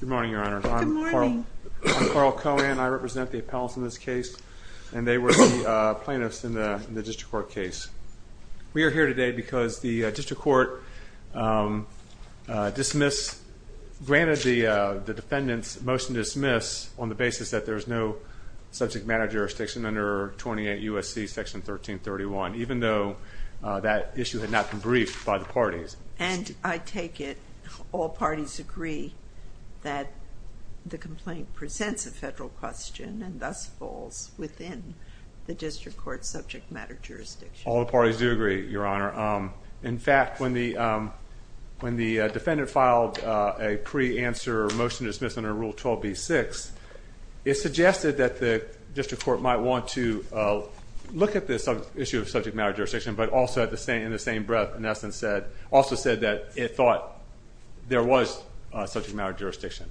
Good morning, Your Honor. Good morning. I'm Carl Cohen. I represent the appellants in this case, and they were the plaintiffs in the district court case. We are here today because the district court dismissed, granted the defendant's motion to dismiss on the basis that there's no subject matter jurisdiction under 28 U.S.C. Section 1331, even though that issue had not been briefed by the parties. And I take it all parties agree that the complaint presents a federal question and thus falls within the district court subject matter jurisdiction. All parties do agree, Your Honor. In fact, when the when the defendant filed a pre answer motion dismissing a rule 12 B six, it suggested that the district court might want to look at this issue of subject matter jurisdiction, but also at the same in the same breath. In essence, said also said that it thought there was such a matter of jurisdiction.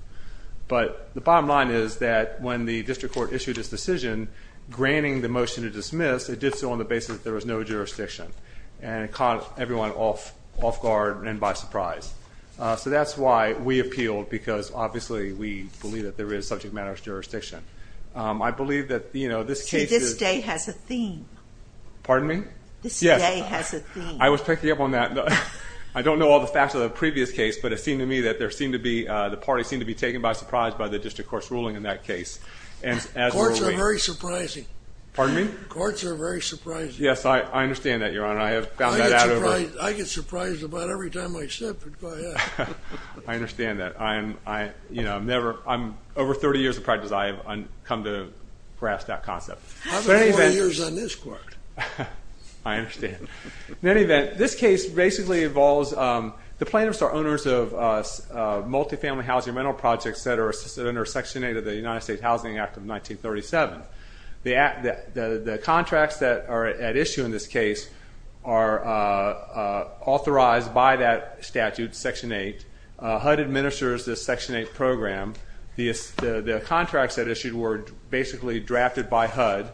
But the bottom line is that when the district court issued his decision, granting the motion to dismiss, it did so on the basis that there was no jurisdiction and caught everyone off guard and by surprise. So that's why we appealed, because obviously we believe that there is subject matters jurisdiction. I believe that this case has a theme. Pardon me? Yes, I was picking up on that. I don't know all the facts of the previous case, but it seemed to me that there seemed to be the party seemed to be taken by surprise by the district court's ruling in that case. And courts are very surprising. Pardon me? Courts are very surprising. Yes, I understand that, Your Honor. I have found that out. I get surprised about every time I sip. I understand that. I'm, you know, I'm never I'm over 30 years of practice. I have come to grasp that concept. I understand. In any event, this case basically involves, the plaintiffs are owners of multifamily housing rental projects that are assisted under Section 8 of the United States Housing Act of 1937. The contracts that are at issue in this case are authorized by that statute, Section 8. HUD administers this Section 8 program. The contracts that issued were basically drafted by HUD.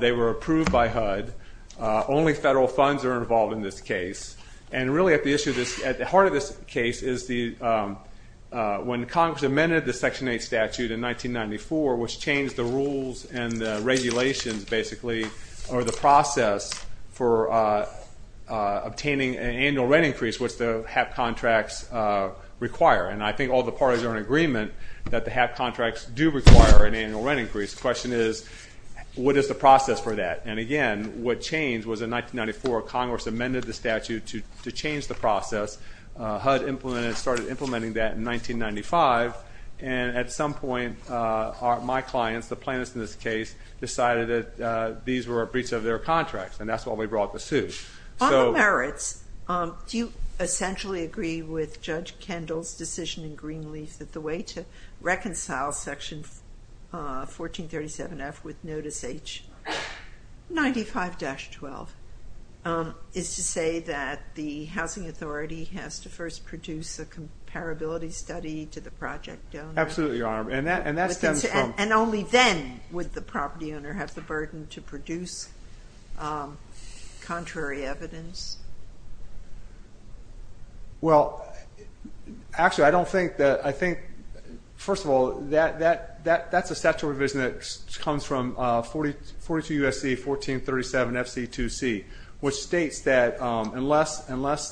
They were approved by HUD. Only federal funds are involved in this case. And really at the issue of this, at the heart of this case, is the when Congress amended the Section 8 statute in 1994, which changed the rules and regulations, basically, or the process for obtaining an annual rent increase, which the HAP contracts require. And I think all the parties are in agreement that the HAP contracts do require an annual rent increase. The question is, what is the process for that? And again, what changed was in 1994, Congress amended the statute to change the process. HUD implemented, started implementing that in 1995. And at some point, my clients, the plaintiffs in this case, decided that these were a breach of their contracts. And that's why we brought the suit. On the merits, do you essentially agree with Judge Kendall's decision in Greenleaf that the way to 1437 F with notice H 95-12 is to say that the housing authority has to first produce a comparability study to the project owner? Absolutely, Your Honor. And that stems from... And only then would the property owner have the burden to produce contrary evidence? Well, actually, I don't think that, I think, first of all, that's a statute revision that comes from 42 USC 1437 FC 2C, which states that unless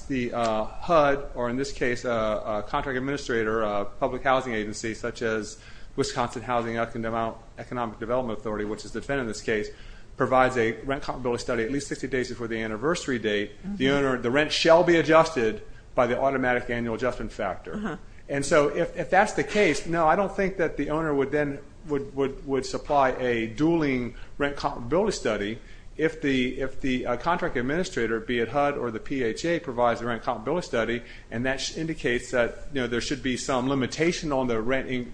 the HUD, or in this case, a contract administrator, a public housing agency such as Wisconsin Housing Economic Development Authority, which is the defendant in this case, provides a rent comparability study at least 60 days before the anniversary date, the owner, the rent shall be adjusted by the automatic annual adjustment factor. And so if that's the case, no, I don't think that the owner would then would supply a dueling rent comparability study if the contract administrator, be it HUD or the PHA, provides a rent comparability study, and that indicates that there should be some limitation on the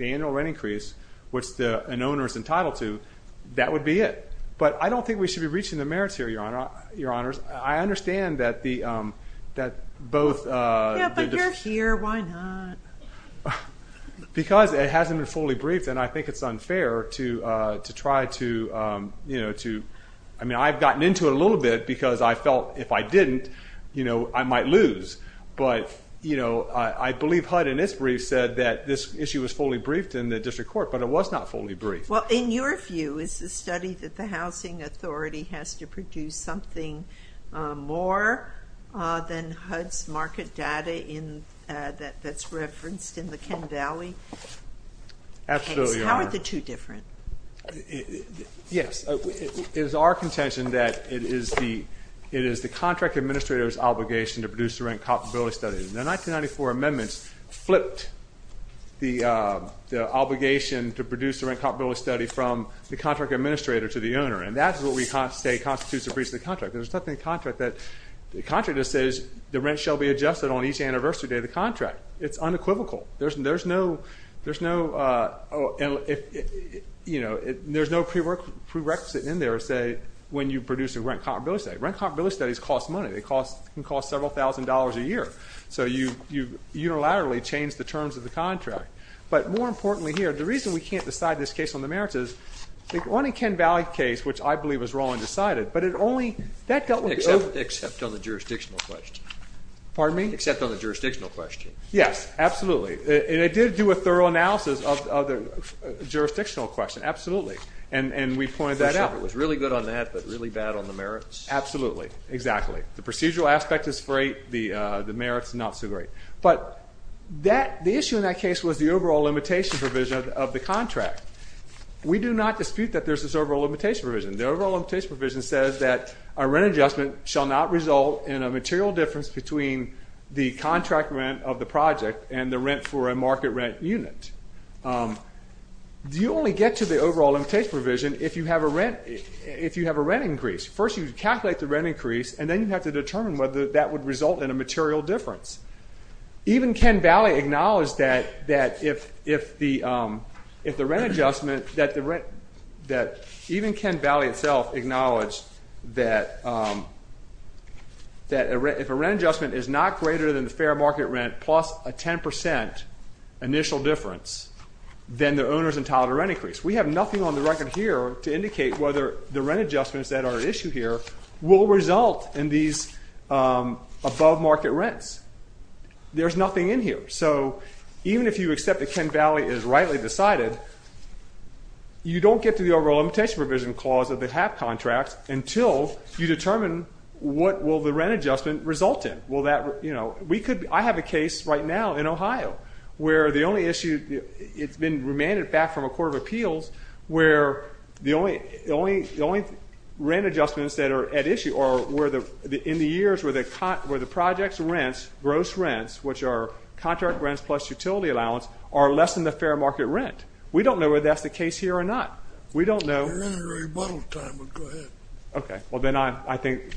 annual rent increase, which an owner is entitled to, that would be it. But I don't think we should be reaching the merits here, Your Honor. I understand that both... Yeah, but you're here, why not? Because it was fully briefed, and I think it's unfair to try to, you know, to... I mean, I've gotten into it a little bit because I felt if I didn't, you know, I might lose. But, you know, I believe HUD in its brief said that this issue was fully briefed in the district court, but it was not fully briefed. Well, in your view, is the study that the Housing Authority has to produce something more than HUD's market data that's referenced in the Ken Valley case? Absolutely, Your Honor. How are the two different? Yes, it is our contention that it is the contract administrator's obligation to produce the rent comparability study. The 1994 amendments flipped the obligation to produce the rent comparability study from the contract administrator to the owner, and that's what we say constitutes a breach of the contract. There's nothing in the contract that... The contract just says the rent shall be adjusted on each anniversary day of the contract. It's unequivocal. There's no prerequisite in there to say when you produce a rent comparability study. Rent comparability studies cost money. They can cost several thousand dollars a year, so you unilaterally change the terms of the contract. But, more importantly here, the reason we can't decide this case on the merits is, on the Ken Valley case, which I believe was on the jurisdictional question. Pardon me? Except on the jurisdictional question. Yes, absolutely. And it did do a thorough analysis of the jurisdictional question, absolutely, and we pointed that out. It was really good on that, but really bad on the merits? Absolutely, exactly. The procedural aspect is great, the merits not so great. But the issue in that case was the overall limitation provision of the contract. We do not dispute that there's this overall limitation provision. The overall limitation provision says that a rent adjustment shall not result in a material difference between the contract rent of the project and the rent for a market rent unit. Do you only get to the overall limitation provision if you have a rent increase? First you calculate the rent increase, and then you have to determine whether that would result in a material difference. Even Ken Valley acknowledged that if the rent adjustment, that even Ken Valley itself acknowledged that if a rent adjustment is not greater than the fair market rent plus a 10% initial difference, then the owner's entitled to rent increase. We have nothing on the record here to indicate whether the rent adjustments that are at issue here will result in these above market rents. There's nothing in here. So even if you accept that Ken Valley is rightly decided, you don't get to the overall limitation provision clause of the HAP contracts until you determine what will the rent adjustment result in. I have a case right now in Ohio where the only issue, it's been remanded back from a court of appeals, where the only rent adjustments that are at issue are in the years where the projects rents, gross rents, which are contract rents plus utility allowance, are less than the fair market rent. We don't know whether that's the case here or not. We don't know. Okay, well then I think,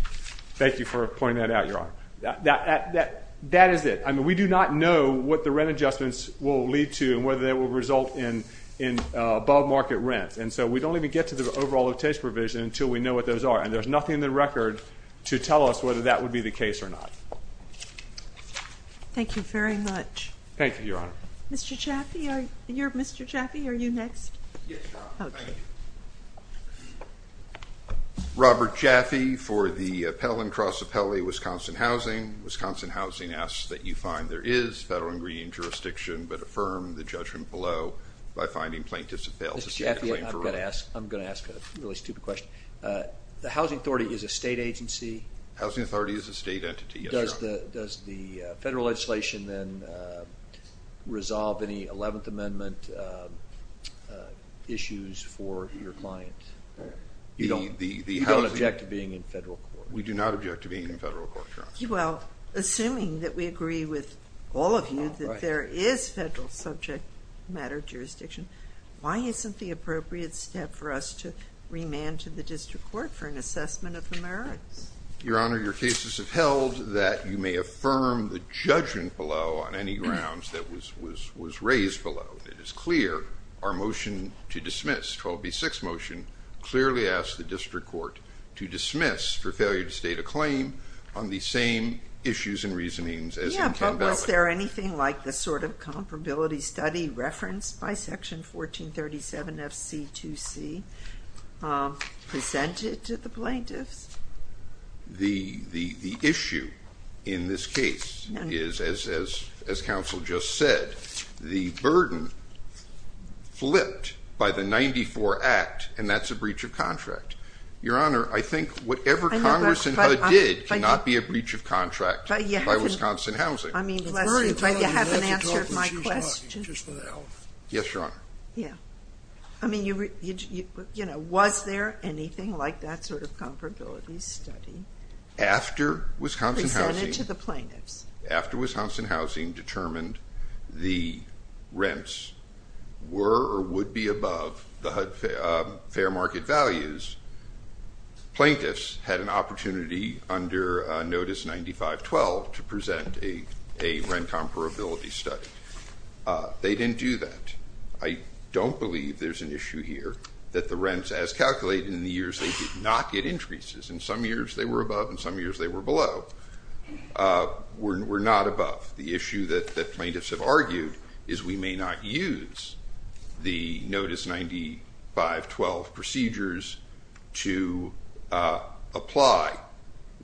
thank you for pointing that out, Your Honor. That is it. I mean, we do not know what the rent adjustments will lead to and whether that will result in above market rents. And so we don't even get to the overall limitation provision until we know what those are. And there's nothing in the record to tell us whether that would be the case or not. Thank you very much. Thank you, Your Honor. Mr. Chaffee, are you next? Robert Chaffee for the Pell and Cross Appellee, Wisconsin Housing. Wisconsin Housing asks that you find there is federal ingredient jurisdiction, but affirm the judgment below by finding plaintiffs have failed to seek a claim for rent. Mr. Chaffee, I'm going to ask a really stupid question. The Housing Authority is a state agency? Housing Authority is a state entity, yes, Your Honor. Does the federal legislation then resolve any 11th Amendment issues for your client? You don't object to being in federal court? We do not object to being in federal court, Your Honor. Well, assuming that we agree with all of you that there is federal subject matter jurisdiction, why isn't the appropriate step for us to remand to the district court for an assessment of the merits? Your Honor, your cases have held that you may affirm the judgment below on any grounds that was raised below. It is clear our motion to dismiss, 12b-6 motion, clearly asks the district court to dismiss for failure to state a claim on the same issues and reasonings as in Ken Valley. Yeah, but was there anything like the sort of comparability study referenced by in this case is, as counsel just said, the burden flipped by the 94 Act and that's a breach of contract. Your Honor, I think whatever Congress and HUD did cannot be a breach of contract by Wisconsin Housing. I mean, you haven't answered my question. Yes, Your Honor. Yeah, I mean, you know, was there anything like that sort of After Wisconsin Housing determined the rents were or would be above the HUD fair market values, plaintiffs had an opportunity under Notice 95-12 to present a rent comparability study. They didn't do that. I don't believe there's an issue here that the rents, as calculated in the years, they did not get increases. In some years they were above, in some years they were below. We're not above. The issue that plaintiffs have argued is we may not use the Notice 95-12 procedures to apply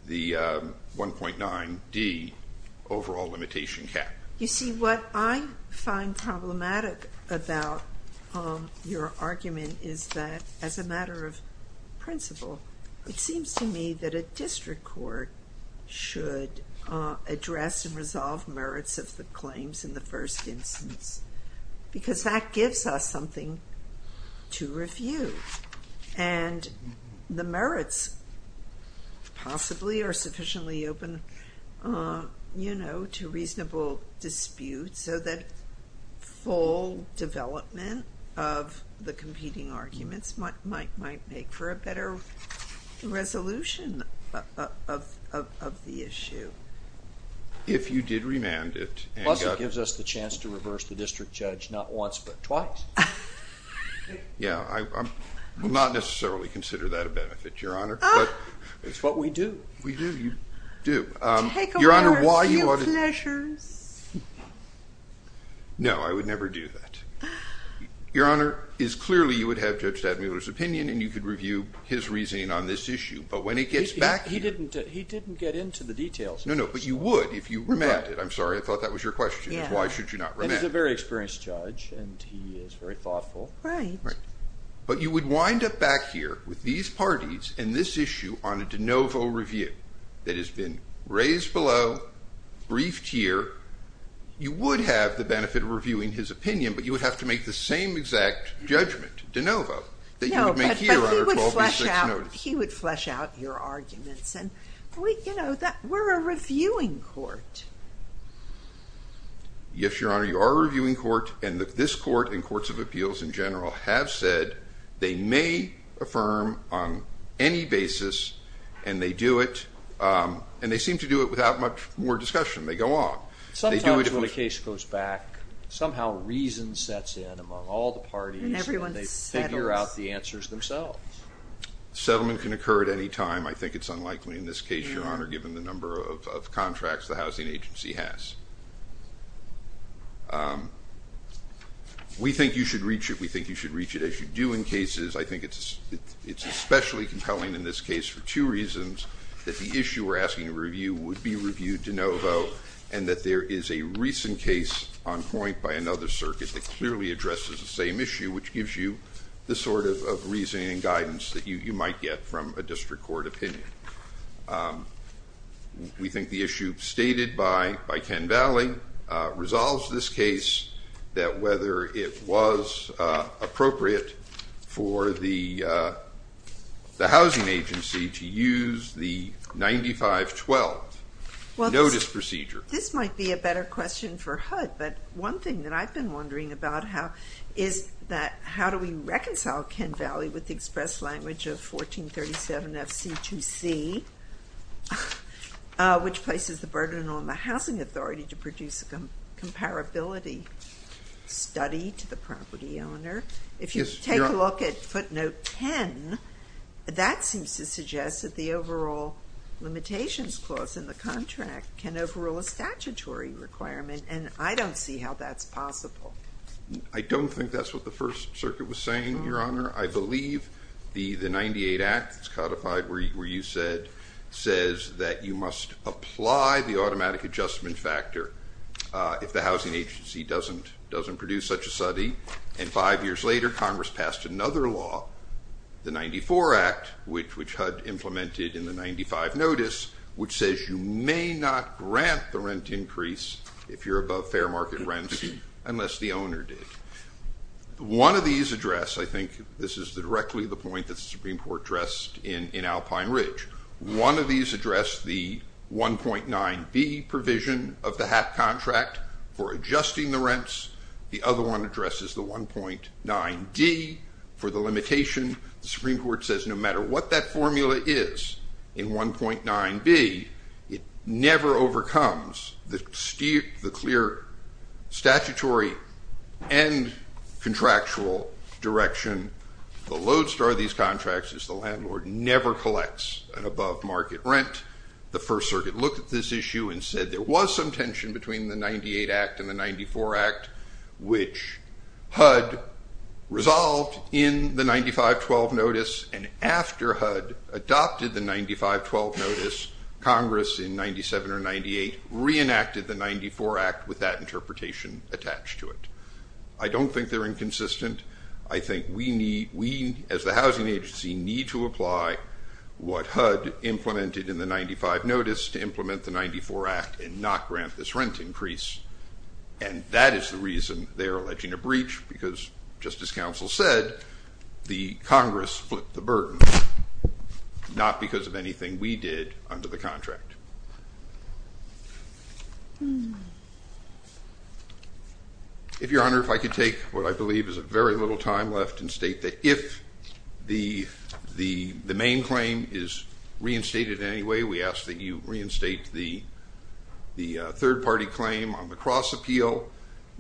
the 1.9d overall limitation cap. You see, what I find problematic about your argument is that, as a matter of principle, it seems to me that a district court should address and resolve merits of the claims in the first instance because that gives us something to review and the merits possibly are sufficiently open, you know, to reasonable dispute so that full development of the competing arguments might make for a better resolution of the issue. If you did remand it. Plus it gives us the chance to reverse the district judge not once but twice. Yeah, I will not necessarily consider that a merit, but it's what we do. We do, you do. Your Honor, why you ought to... No, I would never do that. Your Honor, it's clearly you would have Judge Stadmuller's opinion and you could review his reasoning on this issue, but when it gets back here... He didn't get into the details. No, no, but you would if you remanded. I'm sorry, I thought that was your question. Why should you not remand? He's a very experienced judge and he is very thoughtful. Right. But you would wind up back here with these parties and this issue on a de novo review that has been raised below, briefed here. You would have the benefit of reviewing his opinion, but you would have to make the same exact judgment, de novo, that you would make here on our 12-6 notice. No, but he would flesh out your arguments and we, you know, we're a reviewing court. Yes, Your Honor, you are a reviewing court and this court and courts of appeals in general have said they may affirm on any basis and they do it and they seem to do it without much more discussion. They go on. Sometimes when a case goes back, somehow reason sets in among all the parties and they figure out the answers themselves. Settlement can occur at any time. I think it's unlikely in this case, Your Honor, given the number of contracts the Housing Agency has. We think you should reach it as you do in cases. I think it's especially compelling in this case for two reasons. That the issue we're asking a review would be reviewed de novo and that there is a recent case on point by another circuit that clearly addresses the same issue, which gives you the sort of reasoning and guidance that you might get from a district court opinion. We think the issue stated by Ken Valley resolves this case that whether it was appropriate for the Housing Agency to use the 95-12 notice procedure. This might be a better question for HUD, but one thing that I've been wondering about how is that how do we reconcile Ken Valley with the express language of 1437 FC2C, which places the burden on the housing authority to produce a comparability study to the property owner. If you take a look at footnote 10, that seems to suggest that the overall limitations clause in the contract can overrule a statutory requirement and I don't see how that's possible. I don't think that's what the First Circuit was saying, Your Honor. I believe the 98 Act that's codified where you said says that you must apply the automatic adjustment factor if the Housing Agency doesn't produce such a study and five years later Congress passed another law, the 94 Act, which HUD implemented in the 95 notice, which says you may not grant the rent increase if you're above fair market rents unless the owner did. One of these address, I think this is the point that the Supreme Court addressed in Alpine Ridge, one of these address the 1.9B provision of the HAP contract for adjusting the rents, the other one addresses the 1.9D for the limitation. The Supreme Court says no matter what that formula is in 1.9B, it never overcomes the clear statutory and contractual direction. The lodestar of these contracts is the landlord never collects an above-market rent. The First Circuit looked at this issue and said there was some tension between the 98 Act and the 94 Act, which HUD resolved in the 95-12 notice and after HUD adopted the 95-12 notice, Congress in 97 or 98 reenacted the 94 Act with that interpretation attached to it. I don't think they're inconsistent. I think we need, we as the Housing Agency, need to apply what HUD implemented in the 95 notice to implement the 94 Act and not grant this rent increase and that is the reason they are alleging a breach because, just as counsel said, the Congress flipped the burden, not because of anything we did under the contract. If, Your Honor, if I could take what I believe is a very little time left and state that if the main claim is reinstated in any way, we ask that you reinstate the third party claim on the cross-appeal.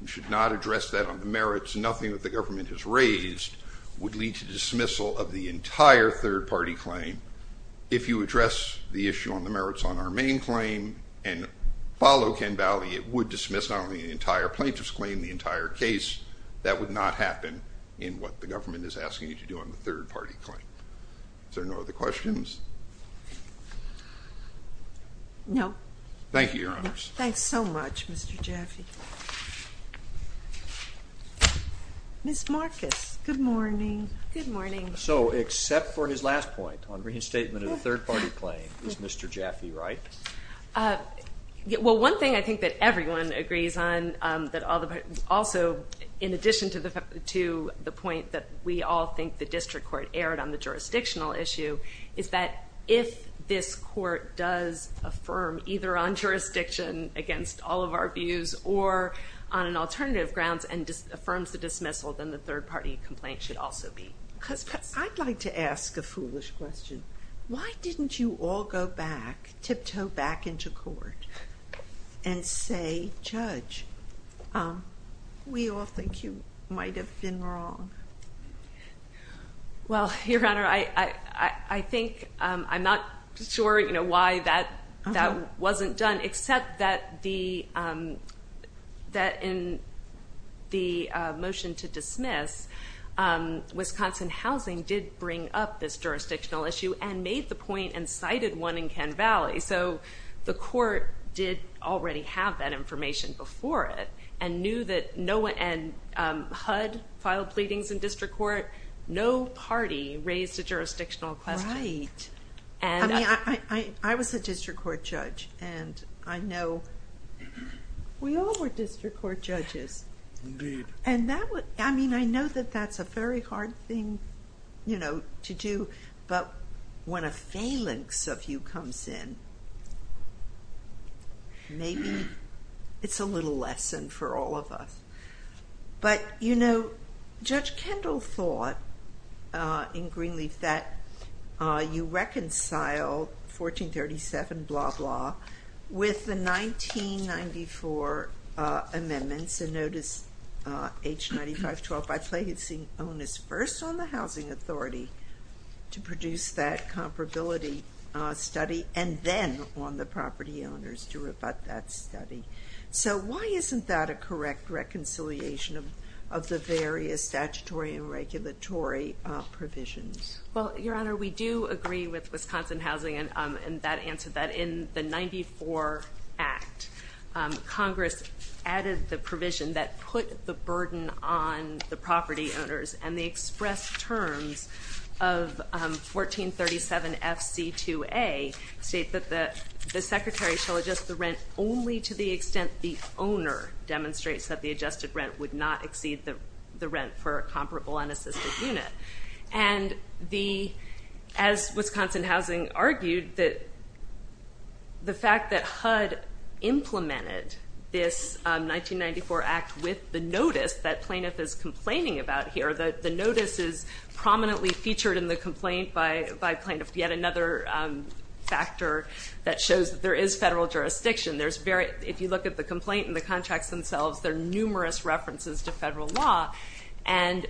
You should not address that on the merits. Nothing that the government has raised would lead to If you address the issue on the merits on our main claim and follow Ken Valley, it would dismiss not only the entire plaintiff's claim, the entire case. That would not happen in what the government is asking you to do on the third party claim. Is there no other questions? No. Thank you, Your Honors. Thanks so much, Mr. Jaffe. Ms. Marcus, good morning. Good morning. So, except for his last point on the third party claim, is Mr. Jaffe right? Well, one thing I think that everyone agrees on, that all the, also in addition to the point that we all think the district court erred on the jurisdictional issue, is that if this court does affirm either on jurisdiction against all of our views or on an alternative grounds and just affirms the dismissal, then the third party complaint should also be dismissed. I'd like to ask a foolish question. Why didn't you all go back, tiptoe back into court and say, Judge, we all think you might have been wrong? Well, Your Honor, I think I'm not sure, you know, why that that wasn't done, except that the, that in the motion to dismiss, Wisconsin Housing did bring up this jurisdictional issue and made the point and cited one in Ken Valley. So, the court did already have that information before it and knew that no one, and HUD filed pleadings in district court, no party raised a jurisdictional question. Right. I mean, I was a district court judge and I know we all were district court judges. Indeed. And that would, I mean, I know that that's a very hard thing, you know, to do, but when a phalanx of you comes in, maybe it's a little lesson for all of us. But, you know, Judge Kendall thought in Greenleaf that you reconcile 1437 blah blah with the 1994 amendments and notice H9512 by placing onus first on the Housing Authority to produce that comparability study and then on the property owners to rebut that study. So, why isn't that a correct reconciliation of the various statutory and regulatory provisions? Well, Your Honor, we do agree with Wisconsin Housing and that answer that in the 94 Act, Congress added the provision that put the burden on the property owners and expressed terms of 1437 FC2A state that the secretary shall adjust the rent only to the extent the owner demonstrates that the adjusted rent would not exceed the rent for a comparable unassisted unit. And the, as Wisconsin Housing argued, that the fact that HUD implemented this 1994 Act with the notice that plaintiff is complaining about here, that the notice is prominently featured in the complaint by plaintiff, yet another factor that shows that there is federal jurisdiction. There's very, if you look at the complaint and the contracts themselves, there are numerous references to federal law and,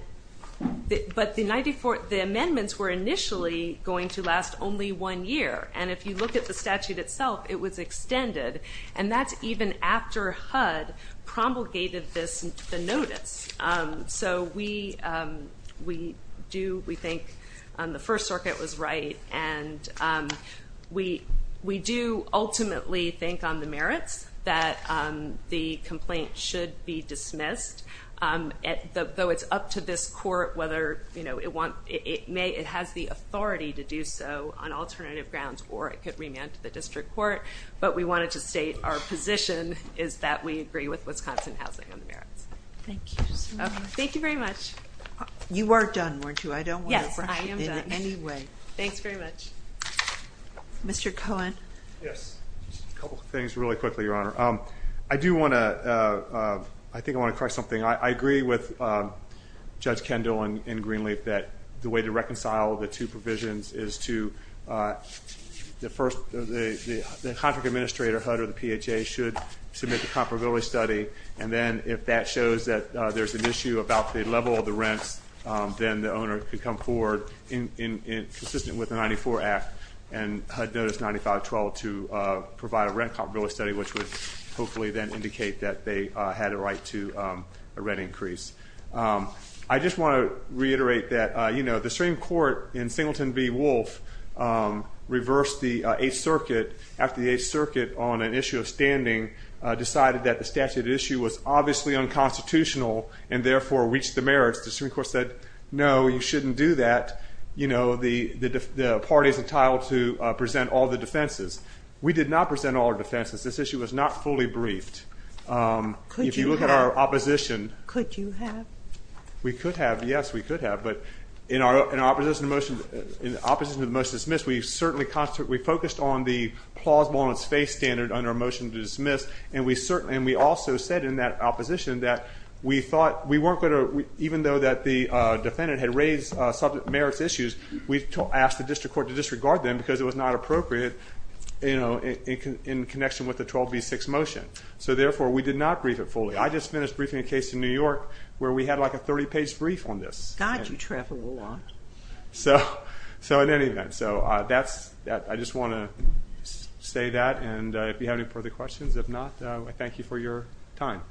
but the 94, the amendments were initially going to last only one year and if you look at the statute itself, it was extended and that's even after HUD promulgated this notice. So we do, we think the First Circuit was right and we do ultimately think on the merits that the complaint should be dismissed, though it's up to this court whether, you know, it may, it has the authority to do so on alternative grounds or it could remand to the Wisconsin Housing on the merits. Thank you. Thank you very much. You were done, weren't you? I don't want to rush you in any way. Thanks very much. Mr. Cohen. Yes, a couple things really quickly, Your Honor. I do want to, I think I want to correct something. I agree with Judge Kendall and Greenleaf that the way to reconcile the two provisions is to, the first, the contract administrator HUD or the PHA should submit the rent comparability study and then if that shows that there's an issue about the level of the rents, then the owner could come forward in, consistent with the 94 Act and HUD notice 9512 to provide a rent comparability study, which would hopefully then indicate that they had a right to a rent increase. I just want to reiterate that, you know, the Supreme Court in Singleton v. Wolfe reversed the circuit on an issue of standing, decided that the statute issue was obviously unconstitutional and therefore reached the merits. The Supreme Court said, no, you shouldn't do that. You know, the party is entitled to present all the defenses. We did not present all our defenses. This issue was not fully briefed. Could you have? If you look at our opposition. Could you have? We could have, yes, we could have, but in our opposition to the motion, in opposition to the motion dismissed, we certainly focused on the plausible-on-its-face standard under a motion to dismiss and we certainly, and we also said in that opposition that we thought we weren't going to, even though that the defendant had raised subject merits issues, we asked the district court to disregard them because it was not appropriate, you know, in connection with the 12b6 motion. So therefore, we did not brief it fully. I just finished briefing a case in New York where we had like a 30 page brief on this. God, you travel a lot. So in any event, so that's, I just want to say that and if you have any further questions, if not, I thank you for your time.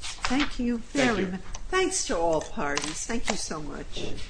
Thank you. Thanks to all parties. Thank you so much.